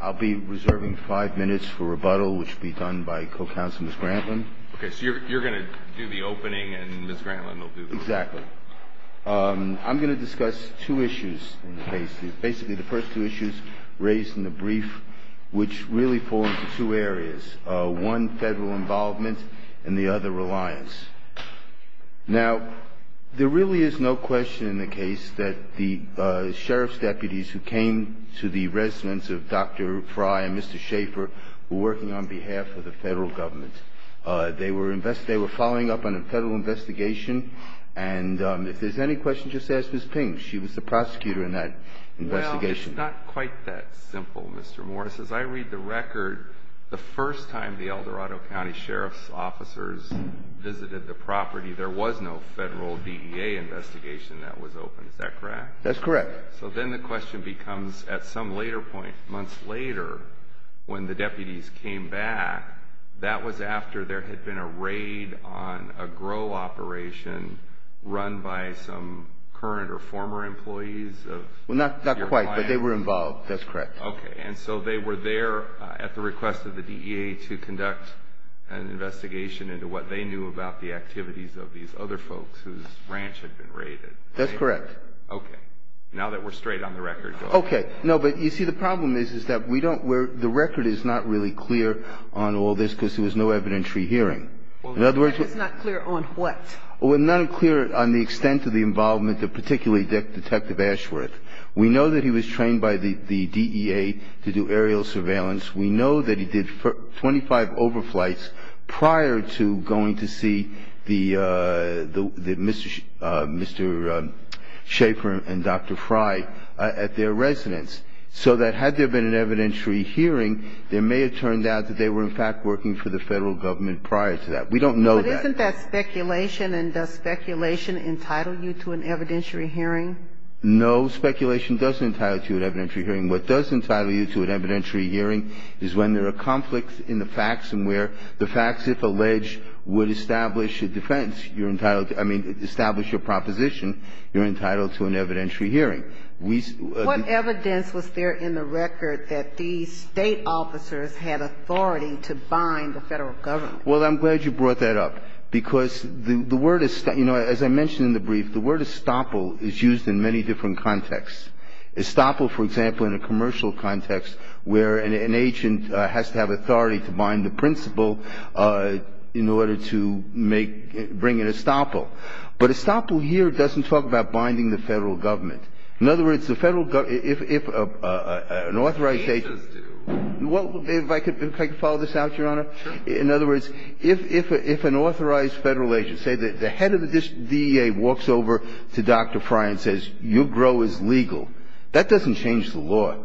I'll be reserving five minutes for rebuttal, which will be done by Co-Counsel Ms. Grantland. Okay, so you're going to do the opening and Ms. Grantland will do the closing. Exactly. I'm going to discuss two issues, basically the first two issues raised in the brief, which really fall into two areas, one federal involvement and the other reliance. Now, there really is no question in the case that the sheriff's deputies who came to the residence of Dr. Fry and Mr. Schaffer were working on behalf of the federal government. They were following up on a federal investigation and if there's any question, just ask Ms. Ping. She was the prosecutor in that investigation. Well, it's not quite that simple, Mr. Morris. As I read the record, the first time the Eldorado County Sheriff's officers visited the property, there was no federal DEA investigation that was open. Is that correct? That's correct. So then the question becomes, at some later point, months later, when the deputies came back, that was after there had been a raid on a grow operation run by some current or former employees of your client? Well, not quite, but they were involved. That's correct. Okay. And so they were there at the request of the DEA to conduct an investigation into what they knew about the activities of these other folks whose ranch had been raided? That's correct. Okay. Now that we're straight on the record, go ahead. Okay. No, but you see, the problem is that the record is not really clear on all this because there was no evidentiary hearing. Well, the record is not clear on what? Well, it's not clear on the extent of the involvement of particularly Detective Ashworth. We know that he was trained by the DEA to do aerial surveillance. We know that he did 25 overflights prior to going to see Mr. Schaefer and Dr. Frye at their residence, so that had there been an evidentiary hearing, there may have turned out that they were, in fact, working for the federal government prior to that. We don't know that. But isn't that speculation, and does speculation entitle you to an evidentiary hearing? No, speculation doesn't entitle you to an evidentiary hearing. What does entitle you to an evidentiary hearing is when there are conflicts in the facts and where the facts, if alleged, would establish a defense. You're entitled to – I mean, establish a proposition, you're entitled to an evidentiary hearing. What evidence was there in the record that these State officers had authority to bind the federal government? Well, I'm glad you brought that up because the word – you know, as I mentioned in the brief, the word estoppel is used in many different contexts. Estoppel, for example, in a commercial context where an agent has to have authority to bind the principal in order to make – bring an estoppel. But estoppel here doesn't talk about binding the federal government. In other words, the federal – if an authorized agent – Can't just do. If I could follow this out, Your Honor? Sure. In other words, if an authorized federal agent, say the head of the DEA walks over to Dr. Fry and says, your grow is legal, that doesn't change the law.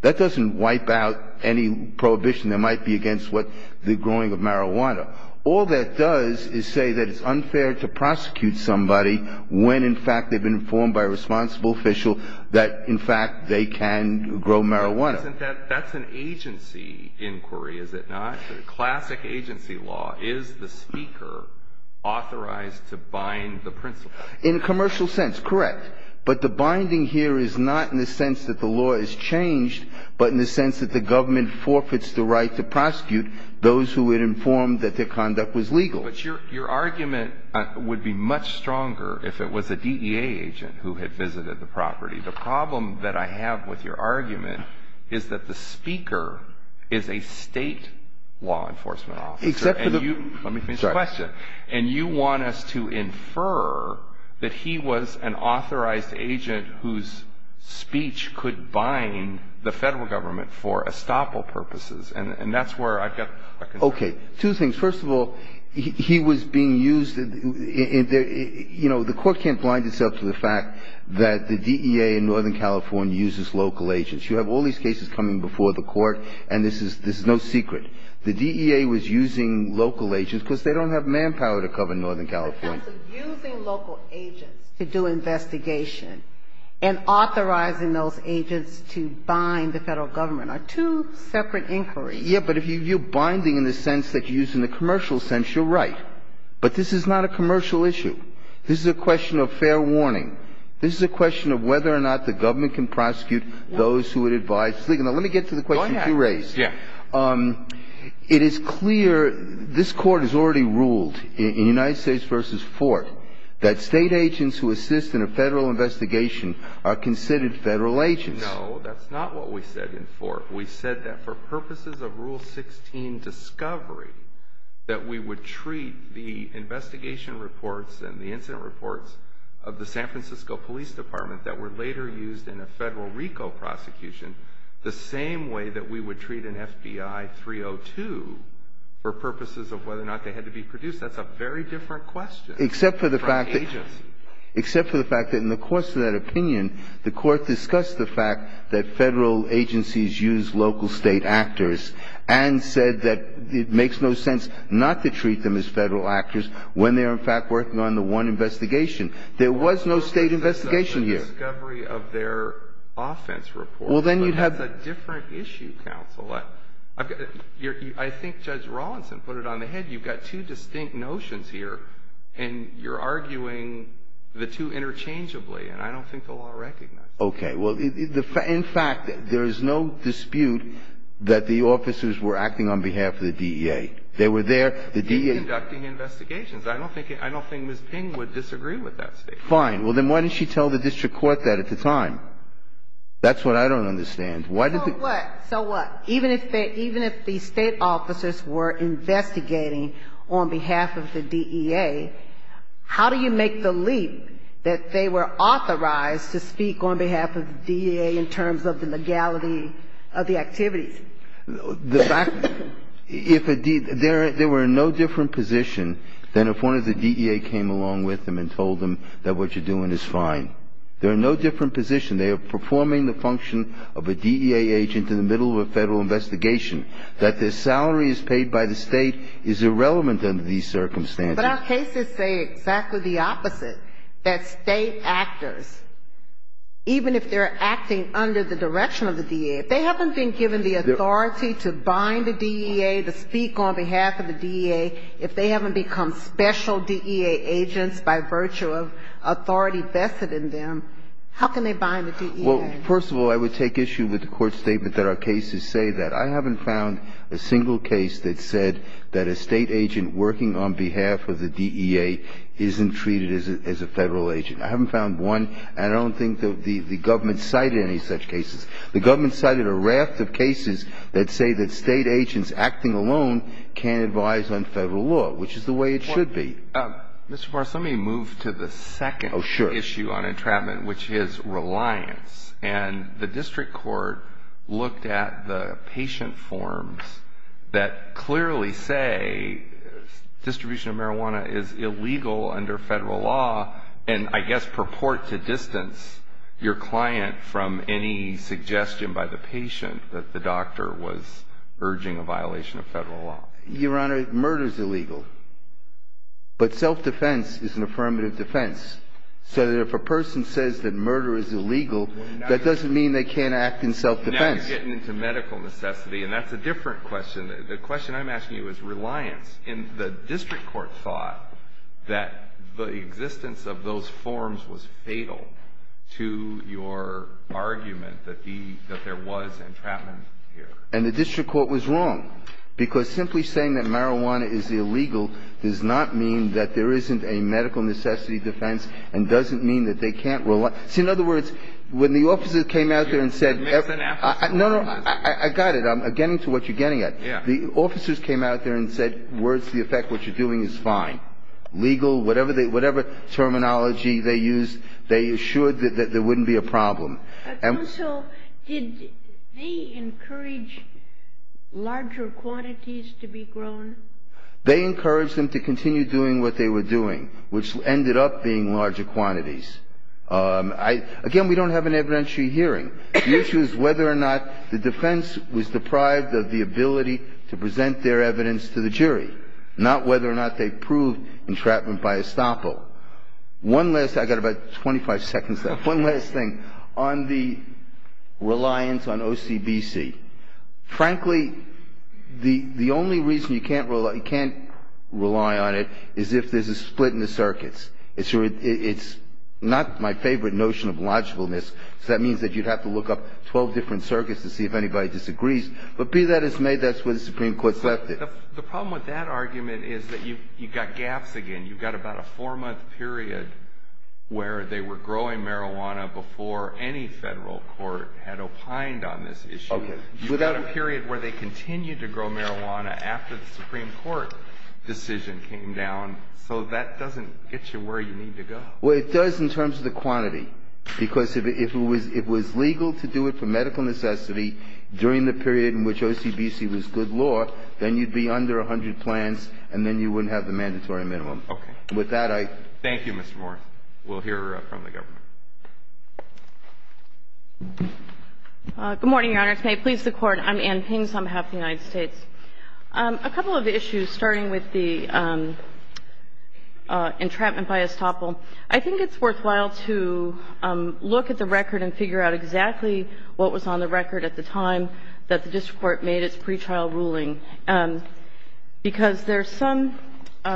That doesn't wipe out any prohibition that might be against what – the growing of marijuana. All that does is say that it's unfair to prosecute somebody when, in fact, they've been informed by a responsible official that, in fact, they can grow marijuana. But isn't that – that's an agency inquiry, is it not? Classic agency law. Is the speaker authorized to bind the principal? In a commercial sense, correct. But the binding here is not in the sense that the law is changed, but in the sense that the government forfeits the right to prosecute those who were informed that their conduct was legal. But your argument would be much stronger if it was a DEA agent who had visited the property. The problem that I have with your argument is that the speaker is a state law enforcement officer. Except for the – Let me finish the question. And you want us to infer that he was an authorized agent whose speech could bind the federal government for estoppel purposes. And that's where I've got – Okay. Two things. First of all, he was being used – you know, the Court can't blind itself to the fact that the DEA in Northern California uses local agents. You have all these cases coming before the Court, and this is – this is no secret. The DEA was using local agents because they don't have manpower to cover Northern California. The sense of using local agents to do investigation and authorizing those agents to bind the federal government are two separate inquiries. Yes, but if you're binding in the sense that you use in the commercial sense, you're right. But this is not a commercial issue. This is a question of fair warning. This is a question of whether or not the government can prosecute those who would advise – Now, let me get to the question you raised. Go ahead. Yeah. It is clear – this Court has already ruled in United States v. Ford that state agents who assist in a federal investigation are considered federal agents. No, that's not what we said in Ford. We said that for purposes of Rule 16 discovery, that we would treat the investigation reports and the incident reports of the San Francisco Police Department that were later used in a federal RICO prosecution the same way that we would treat an FBI 302 for purposes of whether or not they had to be produced. That's a very different question from agency. Except for the fact that in the course of that opinion, the Court discussed the fact that federal agencies use local state actors and said that it makes no sense not to treat them as federal actors when they are, in fact, working on the one investigation. There was no state investigation here. …of their offense report. Well, then you'd have – But that's a different issue, Counsel. I think Judge Rawlinson put it on the head. You've got two distinct notions here, and you're arguing the two interchangeably. And I don't think the law recognizes that. Okay. Well, in fact, there is no dispute that the officers were acting on behalf of the DEA. They were there. They were conducting investigations. I don't think Ms. Ping would disagree with that statement. Fine. Well, then why didn't she tell the district court that at the time? That's what I don't understand. So what? So what? Even if the state officers were investigating on behalf of the DEA, how do you make the leap that they were authorized to speak on behalf of the DEA in terms of the legality of the activities? The fact – if a – there were no different position than if one of the DEA came along with them and told them that what you're doing is fine. There are no different position. They are performing the function of a DEA agent in the middle of a federal investigation. That their salary is paid by the state is irrelevant under these circumstances. But our cases say exactly the opposite, that state actors, even if they're acting under the direction of the DEA, if they haven't been given the authority to bind the DEA, to speak on behalf of the DEA, if they haven't become special DEA agents by virtue of authority vested in them, how can they bind the DEA? Well, first of all, I would take issue with the court's statement that our cases say that. I haven't found a single case that said that a state agent working on behalf of the DEA isn't treated as a federal agent. I haven't found one, and I don't think the government cited any such cases. The government cited a raft of cases that say that state agents acting alone can't advise on federal law, which is the way it should be. Mr. Farris, let me move to the second issue on entrapment, which is reliance. And the district court looked at the patient forms that clearly say distribution of marijuana is illegal under federal law and I guess purport to distance your client from any suggestion by the patient that the doctor was urging a violation of federal law. Your Honor, murder is illegal, but self-defense is an affirmative defense. So if a person says that murder is illegal, that doesn't mean they can't act in self-defense. Now you're getting into medical necessity, and that's a different question. The question I'm asking you is reliance. And the district court thought that the existence of those forms was fatal to your argument that there was entrapment here. And the district court was wrong, because simply saying that marijuana is illegal does not mean that there isn't a medical necessity defense and doesn't mean that they can't reliance. See, in other words, when the officers came out there and said everything else. No, no. I got it. I'm getting to what you're getting at. The officers came out there and said, words to the effect, what you're doing is fine. Legal, whatever terminology they used, they assured that there wouldn't be a problem. And so did they encourage larger quantities to be grown? They encouraged them to continue doing what they were doing, which ended up being larger quantities. Again, we don't have an evidentiary hearing. The issue is whether or not the defense was deprived of the ability to present their evidence to the jury, not whether or not they proved entrapment by estoppel. One last thing. I've got about 25 seconds left. One last thing on the reliance on OCBC. Frankly, the only reason you can't rely on it is if there's a split in the circuits. It's not my favorite notion of logicalness, because that means that you'd have to look up 12 different circuits to see if anybody disagrees. But be that as may, that's where the Supreme Court's left it. The problem with that argument is that you've got gaps again. You've got about a four-month period where they were growing marijuana before any federal court had opined on this issue. You've got a period where they continued to grow marijuana after the Supreme Court decision came down, so that doesn't get you where you need to go. Well, it does in terms of the quantity, because if it was legal to do it for medical necessity during the period in which OCBC was good law, then you'd be under 100 plans, and then you wouldn't have the mandatory minimum. Okay. With that, I... Thank you, Mr. Moore. We'll hear from the government. Good morning, Your Honors. May it please the Court. I'm Ann Pins on behalf of the United States. A couple of issues, starting with the entrapment by estoppel. I think it's worthwhile to look at the record and figure out exactly what was on the record at the time that the district court made its pretrial ruling, because there's some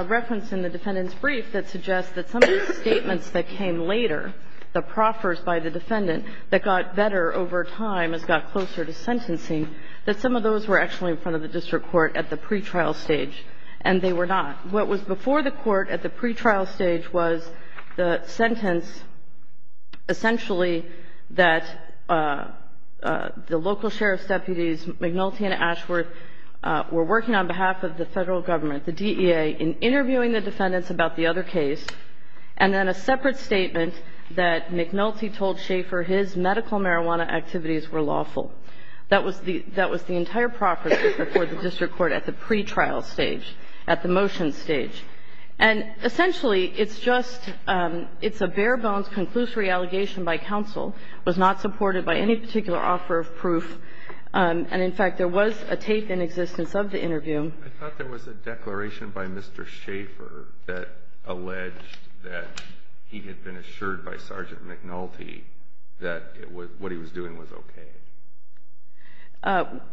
reference in the defendant's brief that suggests that some of the statements that came later, the proffers by the defendant that got better over time as it got closer to sentencing, that some of those were actually in front of the district court at the pretrial stage, and they were not. What was before the court at the pretrial stage was the sentence, essentially, that the local sheriff's deputies, McNulty and Ashworth, were working on behalf of the federal government, the DEA, in interviewing the defendants about the other case, and then a separate statement that McNulty told Schaefer his medical marijuana activities were lawful. That was the entire proffer before the district court at the pretrial stage, at the motion stage. And essentially, it's just — it's a bare-bones conclusory allegation by counsel. It was not supported by any particular offer of proof. And, in fact, there was a tape in existence of the interview. I thought there was a declaration by Mr. Schaefer that alleged that he had been assured by Sergeant McNulty that what he was doing was okay.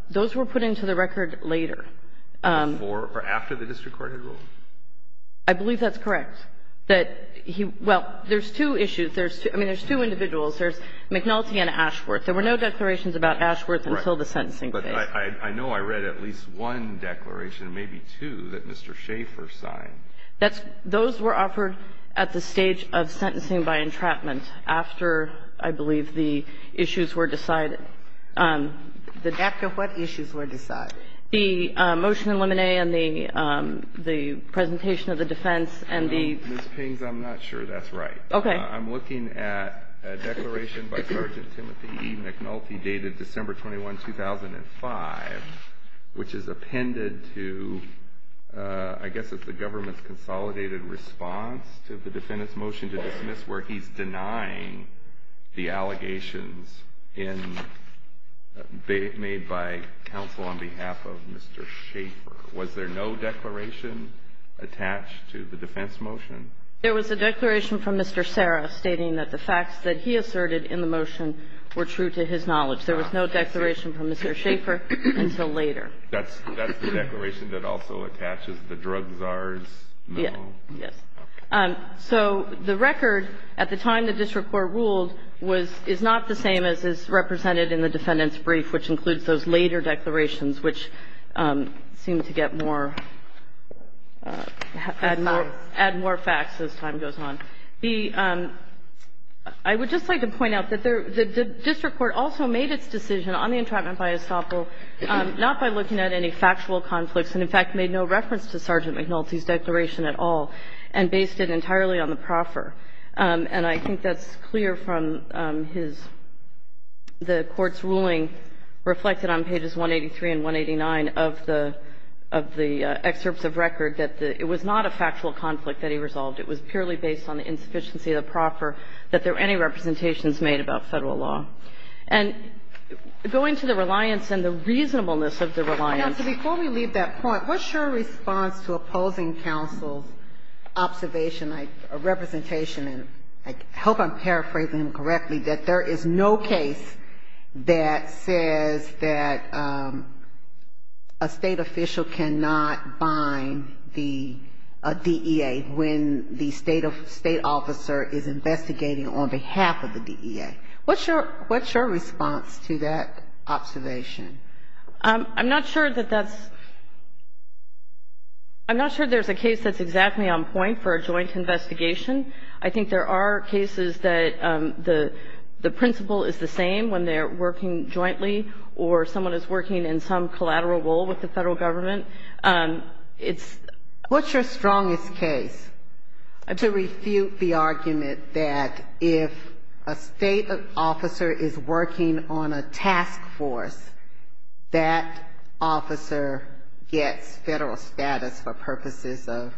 Those were put into the record later. Before or after the district court had ruled. I believe that's correct, that he — well, there's two issues. There's two — I mean, there's two individuals. There's McNulty and Ashworth. There were no declarations about Ashworth until the sentencing phase. Right. But I know I read at least one declaration, maybe two, that Mr. Schaefer signed. That's — those were offered at the stage of sentencing by entrapment after, I believe, the issues were decided. After what issues were decided? The motion in limine and the presentation of the defense and the — Ms. Pings, I'm not sure that's right. Okay. I'm looking at a declaration by Sergeant Timothy E. McNulty dated December 21, 2005, which is appended to, I guess it's the government's consolidated response to the defendant's motion to dismiss where he's denying the allegations in — made by counsel on behalf of Mr. Schaefer. Was there no declaration attached to the defense motion? There was a declaration from Mr. Serra stating that the facts that he asserted in the motion were true to his knowledge. There was no declaration from Mr. Schaefer until later. That's the declaration that also attaches the drug czars? Yes. Yes. So the record at the time the district court ruled was — is not the same as is represented in the defendant's brief, which includes those later declarations, which seem to get more — Add more facts. Add more facts as time goes on. The — I would just like to point out that the district court also made its decision on the entrapment by estoppel not by looking at any factual conflicts and, in fact, made no reference to Sergeant McNulty's declaration at all. And based it entirely on the proffer. And I think that's clear from his — the Court's ruling reflected on pages 183 and 189 of the excerpts of record that it was not a factual conflict that he resolved. It was purely based on the insufficiency of the proffer that there were any representations made about Federal law. And going to the reliance and the reasonableness of the reliance — observation, like a representation, and I hope I'm paraphrasing him correctly, that there is no case that says that a State official cannot bind the DEA when the State officer is investigating on behalf of the DEA. What's your — what's your response to that observation? I'm not sure that that's — I'm not sure there's a case that's exactly on point for a joint investigation. I think there are cases that the — the principle is the same when they're working jointly or someone is working in some collateral role with the Federal Government. It's — What's your strongest case to refute the argument that if a State officer is working on a task force, that officer gets Federal status for purposes of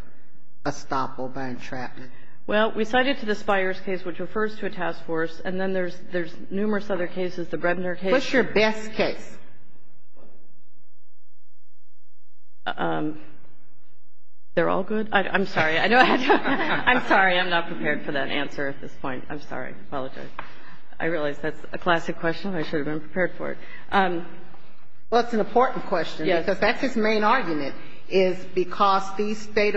estoppel by entrapment? Well, we cited to the Spires case, which refers to a task force, and then there's numerous other cases, the Bredner case. What's your best case? They're all good? I'm sorry. I know I have to — I'm sorry. I'm not prepared for that answer at this point. I'm sorry. I apologize. I realize that's a classic question. I should have been prepared for it. Well, it's an important question. Yes. Because that's his main argument, is because these State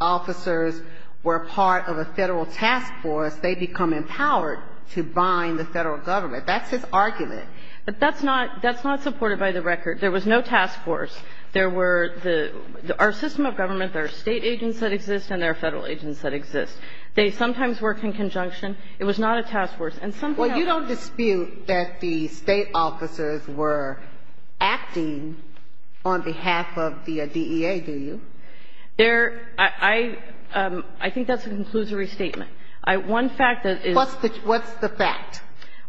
officers were part of a Federal task force, they become empowered to bind the Federal Government. That's his argument. But that's not — that's not supported by the record. There was no task force. There were the — our system of government, there are State agents that exist and there are Federal agents that exist. They sometimes work in conjunction. It was not a task force. And something else — Well, you don't dispute that the State officers were acting on behalf of the DEA, do you? There — I think that's a conclusory statement. One fact that is — What's the fact?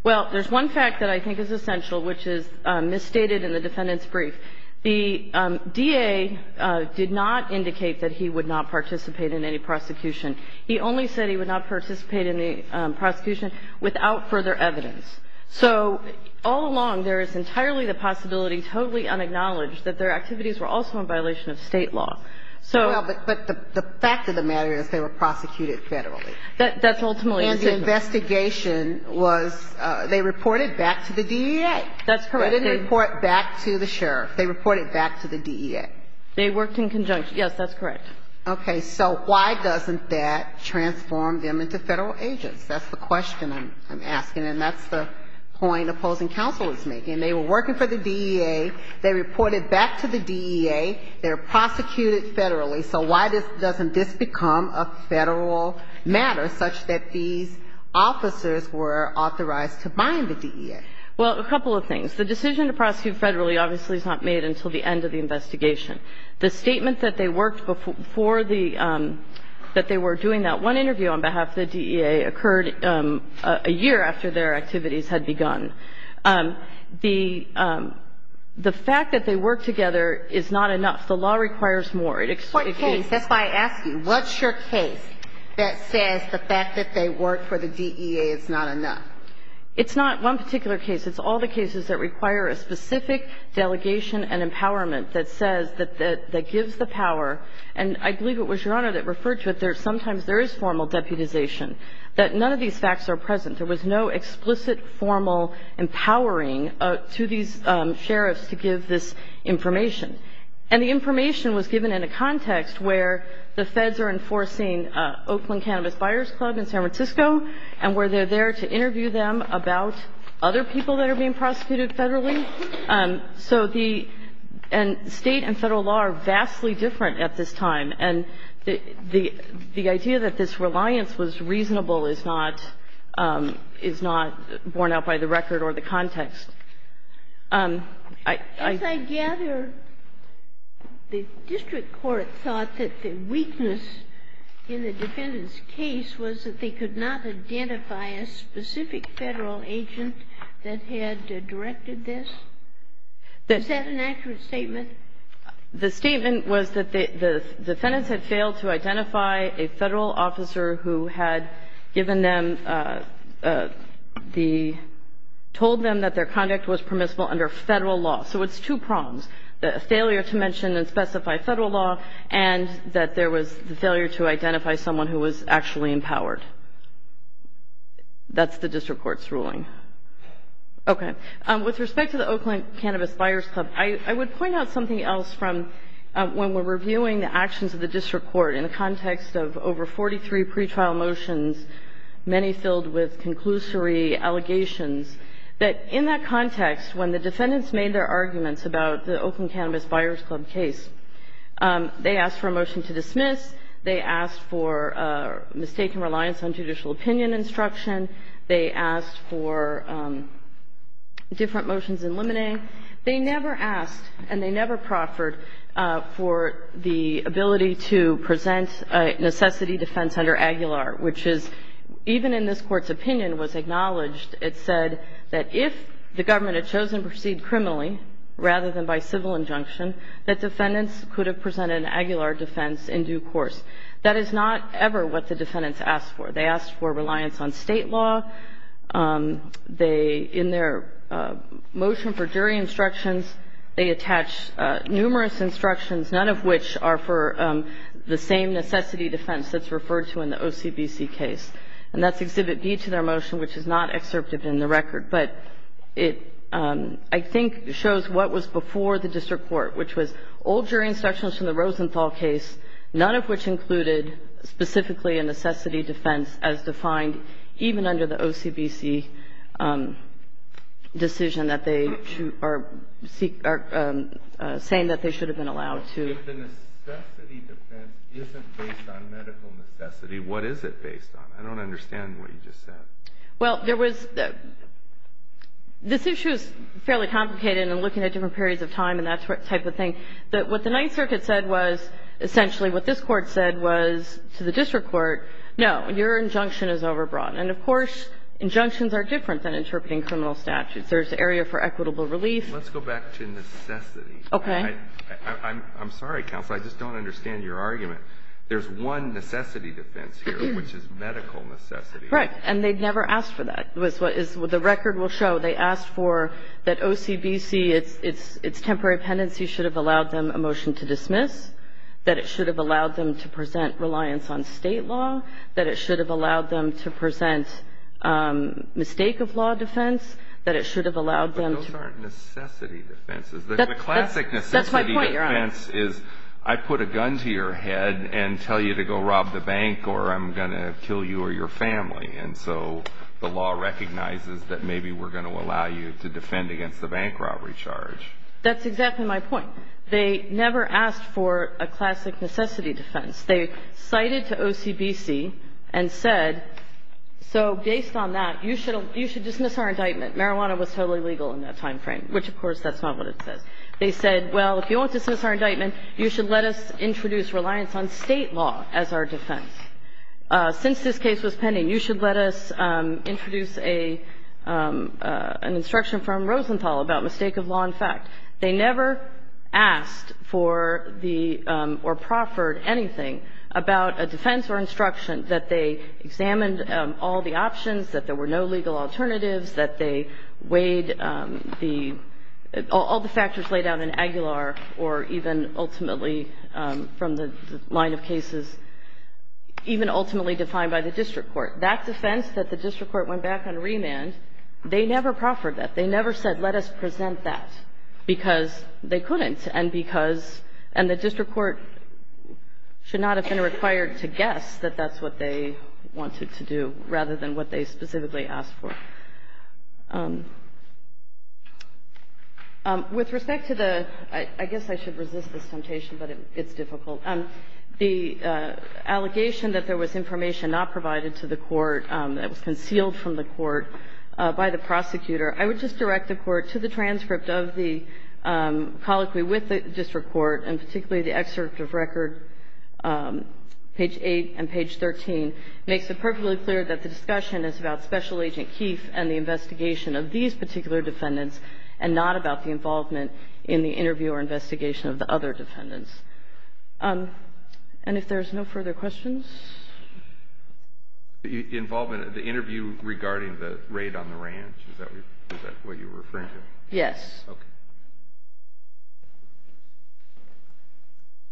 Well, there's one fact that I think is essential, which is misstated in the defendant's brief. The DA did not indicate that he would not participate in any prosecution. He only said he would not participate in the prosecution without further evidence. So all along, there is entirely the possibility, totally unacknowledged, that their activities were also in violation of State law. So — Well, but the fact of the matter is they were prosecuted Federally. That's ultimately — And the investigation was — they reported back to the DEA. That's correct. They didn't report back to the sheriff. They reported back to the DEA. They worked in conjunction. Yes, that's correct. Okay. So why doesn't that transform them into Federal agents? That's the question I'm asking, and that's the point opposing counsel is making. They were working for the DEA. They reported back to the DEA. They were prosecuted Federally. So why doesn't this become a Federal matter, such that these officers were authorized to bind the DEA? Well, a couple of things. The decision to prosecute Federally obviously is not made until the end of the investigation. The statement that they worked for the — that they were doing that one interview on behalf of the DEA occurred a year after their activities had begun. The fact that they worked together is not enough. The law requires more. What case? That's why I ask you. What's your case that says the fact that they worked for the DEA is not enough? It's not one particular case. It's all the cases that require a specific delegation and empowerment that says that gives the power. And I believe it was Your Honor that referred to it. Sometimes there is formal deputization, that none of these facts are present. There was no explicit formal empowering to these sheriffs to give this information. And the information was given in a context where the feds are enforcing Oakland Cannabis Buyers Club in San Francisco, and where they're there to interview them about other people that are being prosecuted federally. So the — and State and Federal law are vastly different at this time. And the idea that this reliance was reasonable is not — is not borne out by the record or the context. I — As I gather, the district court thought that the weakness in the defendant's case was that they could not identify a specific Federal agent that had directed this? Is that an accurate statement? The statement was that the defendants had failed to identify a Federal officer who had given them the — told them that their conduct was permissible under Federal law. So it's two prongs, a failure to mention and specify Federal law, and that there was the failure to identify someone who was actually empowered. That's the district court's ruling. Okay. With respect to the Oakland Cannabis Buyers Club, I would point out something else from when we're reviewing the actions of the district court in the context of over 43 pretrial motions, many filled with conclusory allegations, that in that context, when the defendants made their arguments about the Oakland Cannabis Buyers Club case, they asked for a motion to dismiss. They asked for mistaken reliance on judicial opinion instruction. They asked for different motions in limine. They never asked, and they never proffered, for the ability to present a necessity defense under Aguilar, which is, even in this Court's opinion, was acknowledged it said that if the government had chosen to proceed criminally rather than by civil injunction, that defendants could have presented an Aguilar defense in due course. That is not ever what the defendants asked for. They asked for reliance on State law. They, in their motion for jury instructions, they attach numerous instructions, none of which are for the same necessity defense that's referred to in the OCBC case. And that's Exhibit B to their motion, which is not excerpted in the record. But it, I think, shows what was before the district court, which was old jury instructions from the Rosenthal case, none of which included specifically a necessity defense as defined even under the OCBC decision that they are saying that they should have been allowed to. But if the necessity defense isn't based on medical necessity, what is it based on? I don't understand what you just said. Well, there was the – this issue is fairly complicated, and I'm looking at different periods of time and that type of thing. What the Ninth Circuit said was essentially what this Court said was to the district court, no, your injunction is overbroad. And, of course, injunctions are different than interpreting criminal statutes. There's the area for equitable relief. Let's go back to necessity. Okay. I'm sorry, Counsel. I just don't understand your argument. There's one necessity defense here, which is medical necessity. Right. And they never asked for that. The record will show they asked for that OCBC, its temporary pendency, should have allowed them a motion to dismiss, that it should have allowed them to present reliance on State law, that it should have allowed them to present mistake of law defense, that it should have allowed them to – But those aren't necessity defenses. The classic necessity defense is I put a gun to your head and tell you to go rob the bank or I'm going to kill you or your family. And so the law recognizes that maybe we're going to allow you to defend against the bank robbery charge. That's exactly my point. They never asked for a classic necessity defense. They cited to OCBC and said, so based on that, you should dismiss our indictment. Marijuana was totally legal in that timeframe, which, of course, that's not what it says. They said, well, if you want to dismiss our indictment, you should let us introduce reliance on State law as our defense. Since this case was pending, you should let us introduce an instruction from Rosenthal about mistake of law in fact. They never asked for the – or proffered anything about a defense or instruction that they examined all the options, that there were no legal alternatives, that they weighed the – all the factors laid out in Aguilar or even ultimately from the line of cases, even ultimately defined by the district court. That defense that the district court went back and remanded, they never proffered that. They never said let us present that because they couldn't and because – and the to do rather than what they specifically asked for. With respect to the – I guess I should resist this temptation, but it's difficult. The allegation that there was information not provided to the court that was concealed from the court by the prosecutor, I would just direct the Court to the transcript of the colloquy with the district court and particularly the excerpt of record page 8 and page 13 makes it perfectly clear that the discussion is about Special Agent Keefe and the investigation of these particular defendants and not about the involvement in the interview or investigation of the other defendants. And if there's no further questions? The involvement of the interview regarding the raid on the ranch, is that what you're referring to? Yes. Okay.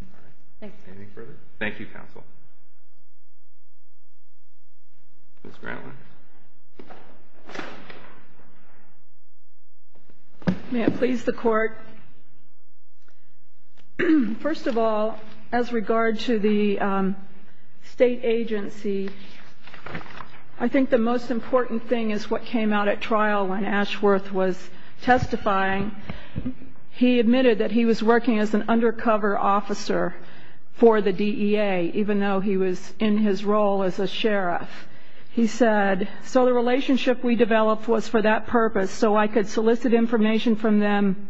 All right. Thank you. Anything further? Thank you, counsel. Ms. Grantland. May it please the Court. First of all, as regard to the state agency, I think the most important thing is what he admitted that he was working as an undercover officer for the DEA, even though he was in his role as a sheriff. He said, so the relationship we developed was for that purpose, so I could solicit information from them.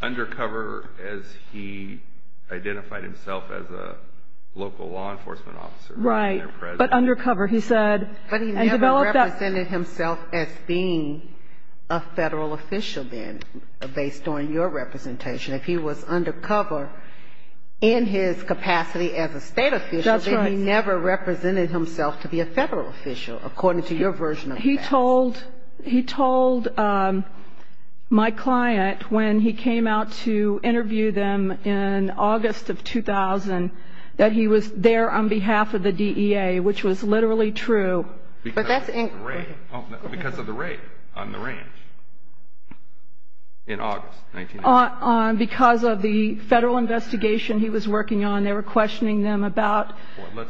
Undercover as he identified himself as a local law enforcement officer. Right. But undercover, he said. But he never represented himself as being a federal official then, based on your representation. If he was undercover in his capacity as a state official, then he never represented himself to be a federal official, according to your version of that. He told my client when he came out to interview them in August of 2000 that he was there on Because of the raid on the ranch in August. Because of the federal investigation he was working on, they were questioning them about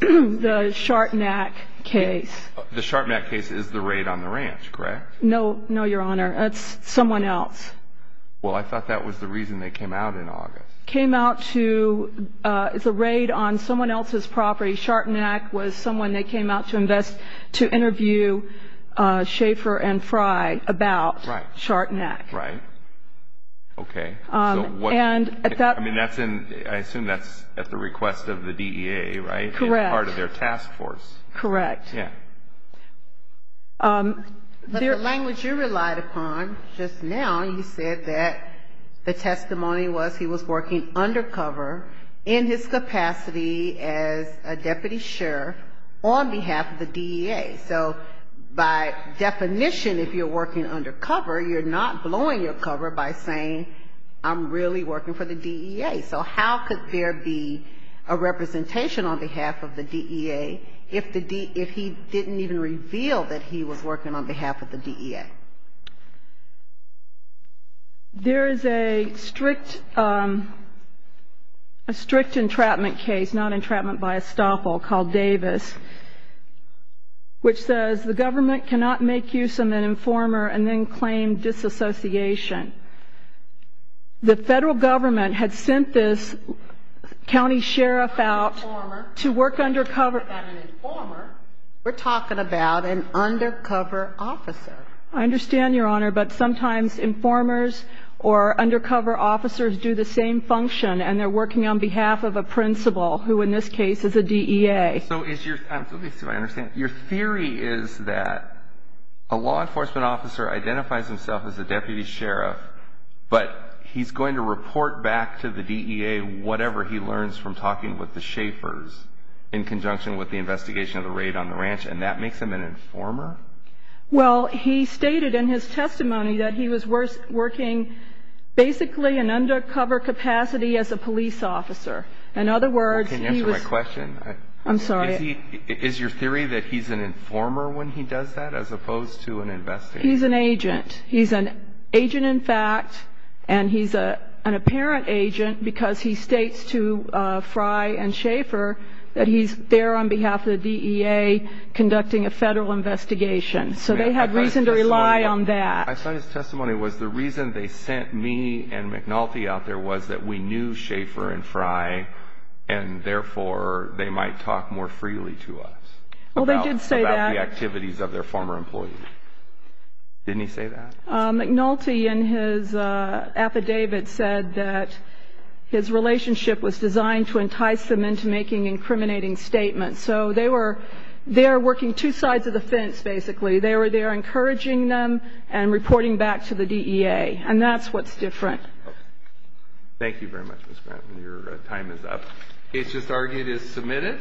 the Shartnack case. The Shartnack case is the raid on the ranch, correct? No, your Honor. It's someone else. Well, I thought that was the reason they came out in August. Came out to, it's a raid on someone else's property. Shartnack was someone they came out to invest, to interview Schaefer and Fry about Shartnack. Right. Okay. So what. And at that. I mean, that's in, I assume that's at the request of the DEA, right? Correct. Part of their task force. Correct. Yeah. But the language you relied upon just now, you said that the testimony was he was working undercover in his capacity as a deputy sheriff on behalf of the DEA. So by definition, if you're working undercover, you're not blowing your cover by saying I'm really working for the DEA. So how could there be a representation on behalf of the DEA if he didn't even reveal that he was working on behalf of the DEA? There is a strict entrapment case, not entrapment by estoppel, called Davis, which says the government cannot make use of an informer and then claim disassociation. The federal government had sent this county sheriff out to work undercover. And when we're talking about an informer, we're talking about an undercover officer. I understand, Your Honor, but sometimes informers or undercover officers do the same function and they're working on behalf of a principal, who in this case is a DEA. So is your, let me see if I understand. Your theory is that a law enforcement officer identifies himself as a deputy sheriff, but he's going to report back to the DEA whatever he does? Well, he stated in his testimony that he was working basically in undercover capacity as a police officer. In other words, he was... I'm sorry. Is your theory that he's an informer when he does that as opposed to an investigator? He's an agent. He's an agent in fact, and he's an apparent agent because he states to Frye and Schaefer that he's there on behalf of the DEA conducting a federal investigation. So they had reason to rely on that. I thought his testimony was the reason they sent me and McNulty out there was that we knew Schaefer and Frye, and therefore they might talk more freely to us. Well, they did say that. McNulty in his affidavit said that his relationship was designed to entice them into making incriminating statements. So they were there working two sides of the fence, basically. They were there encouraging them and reporting back to the DEA. And that's what's different. Thank you very much, Ms. Grant. Your time is up. It's just argued as submitted.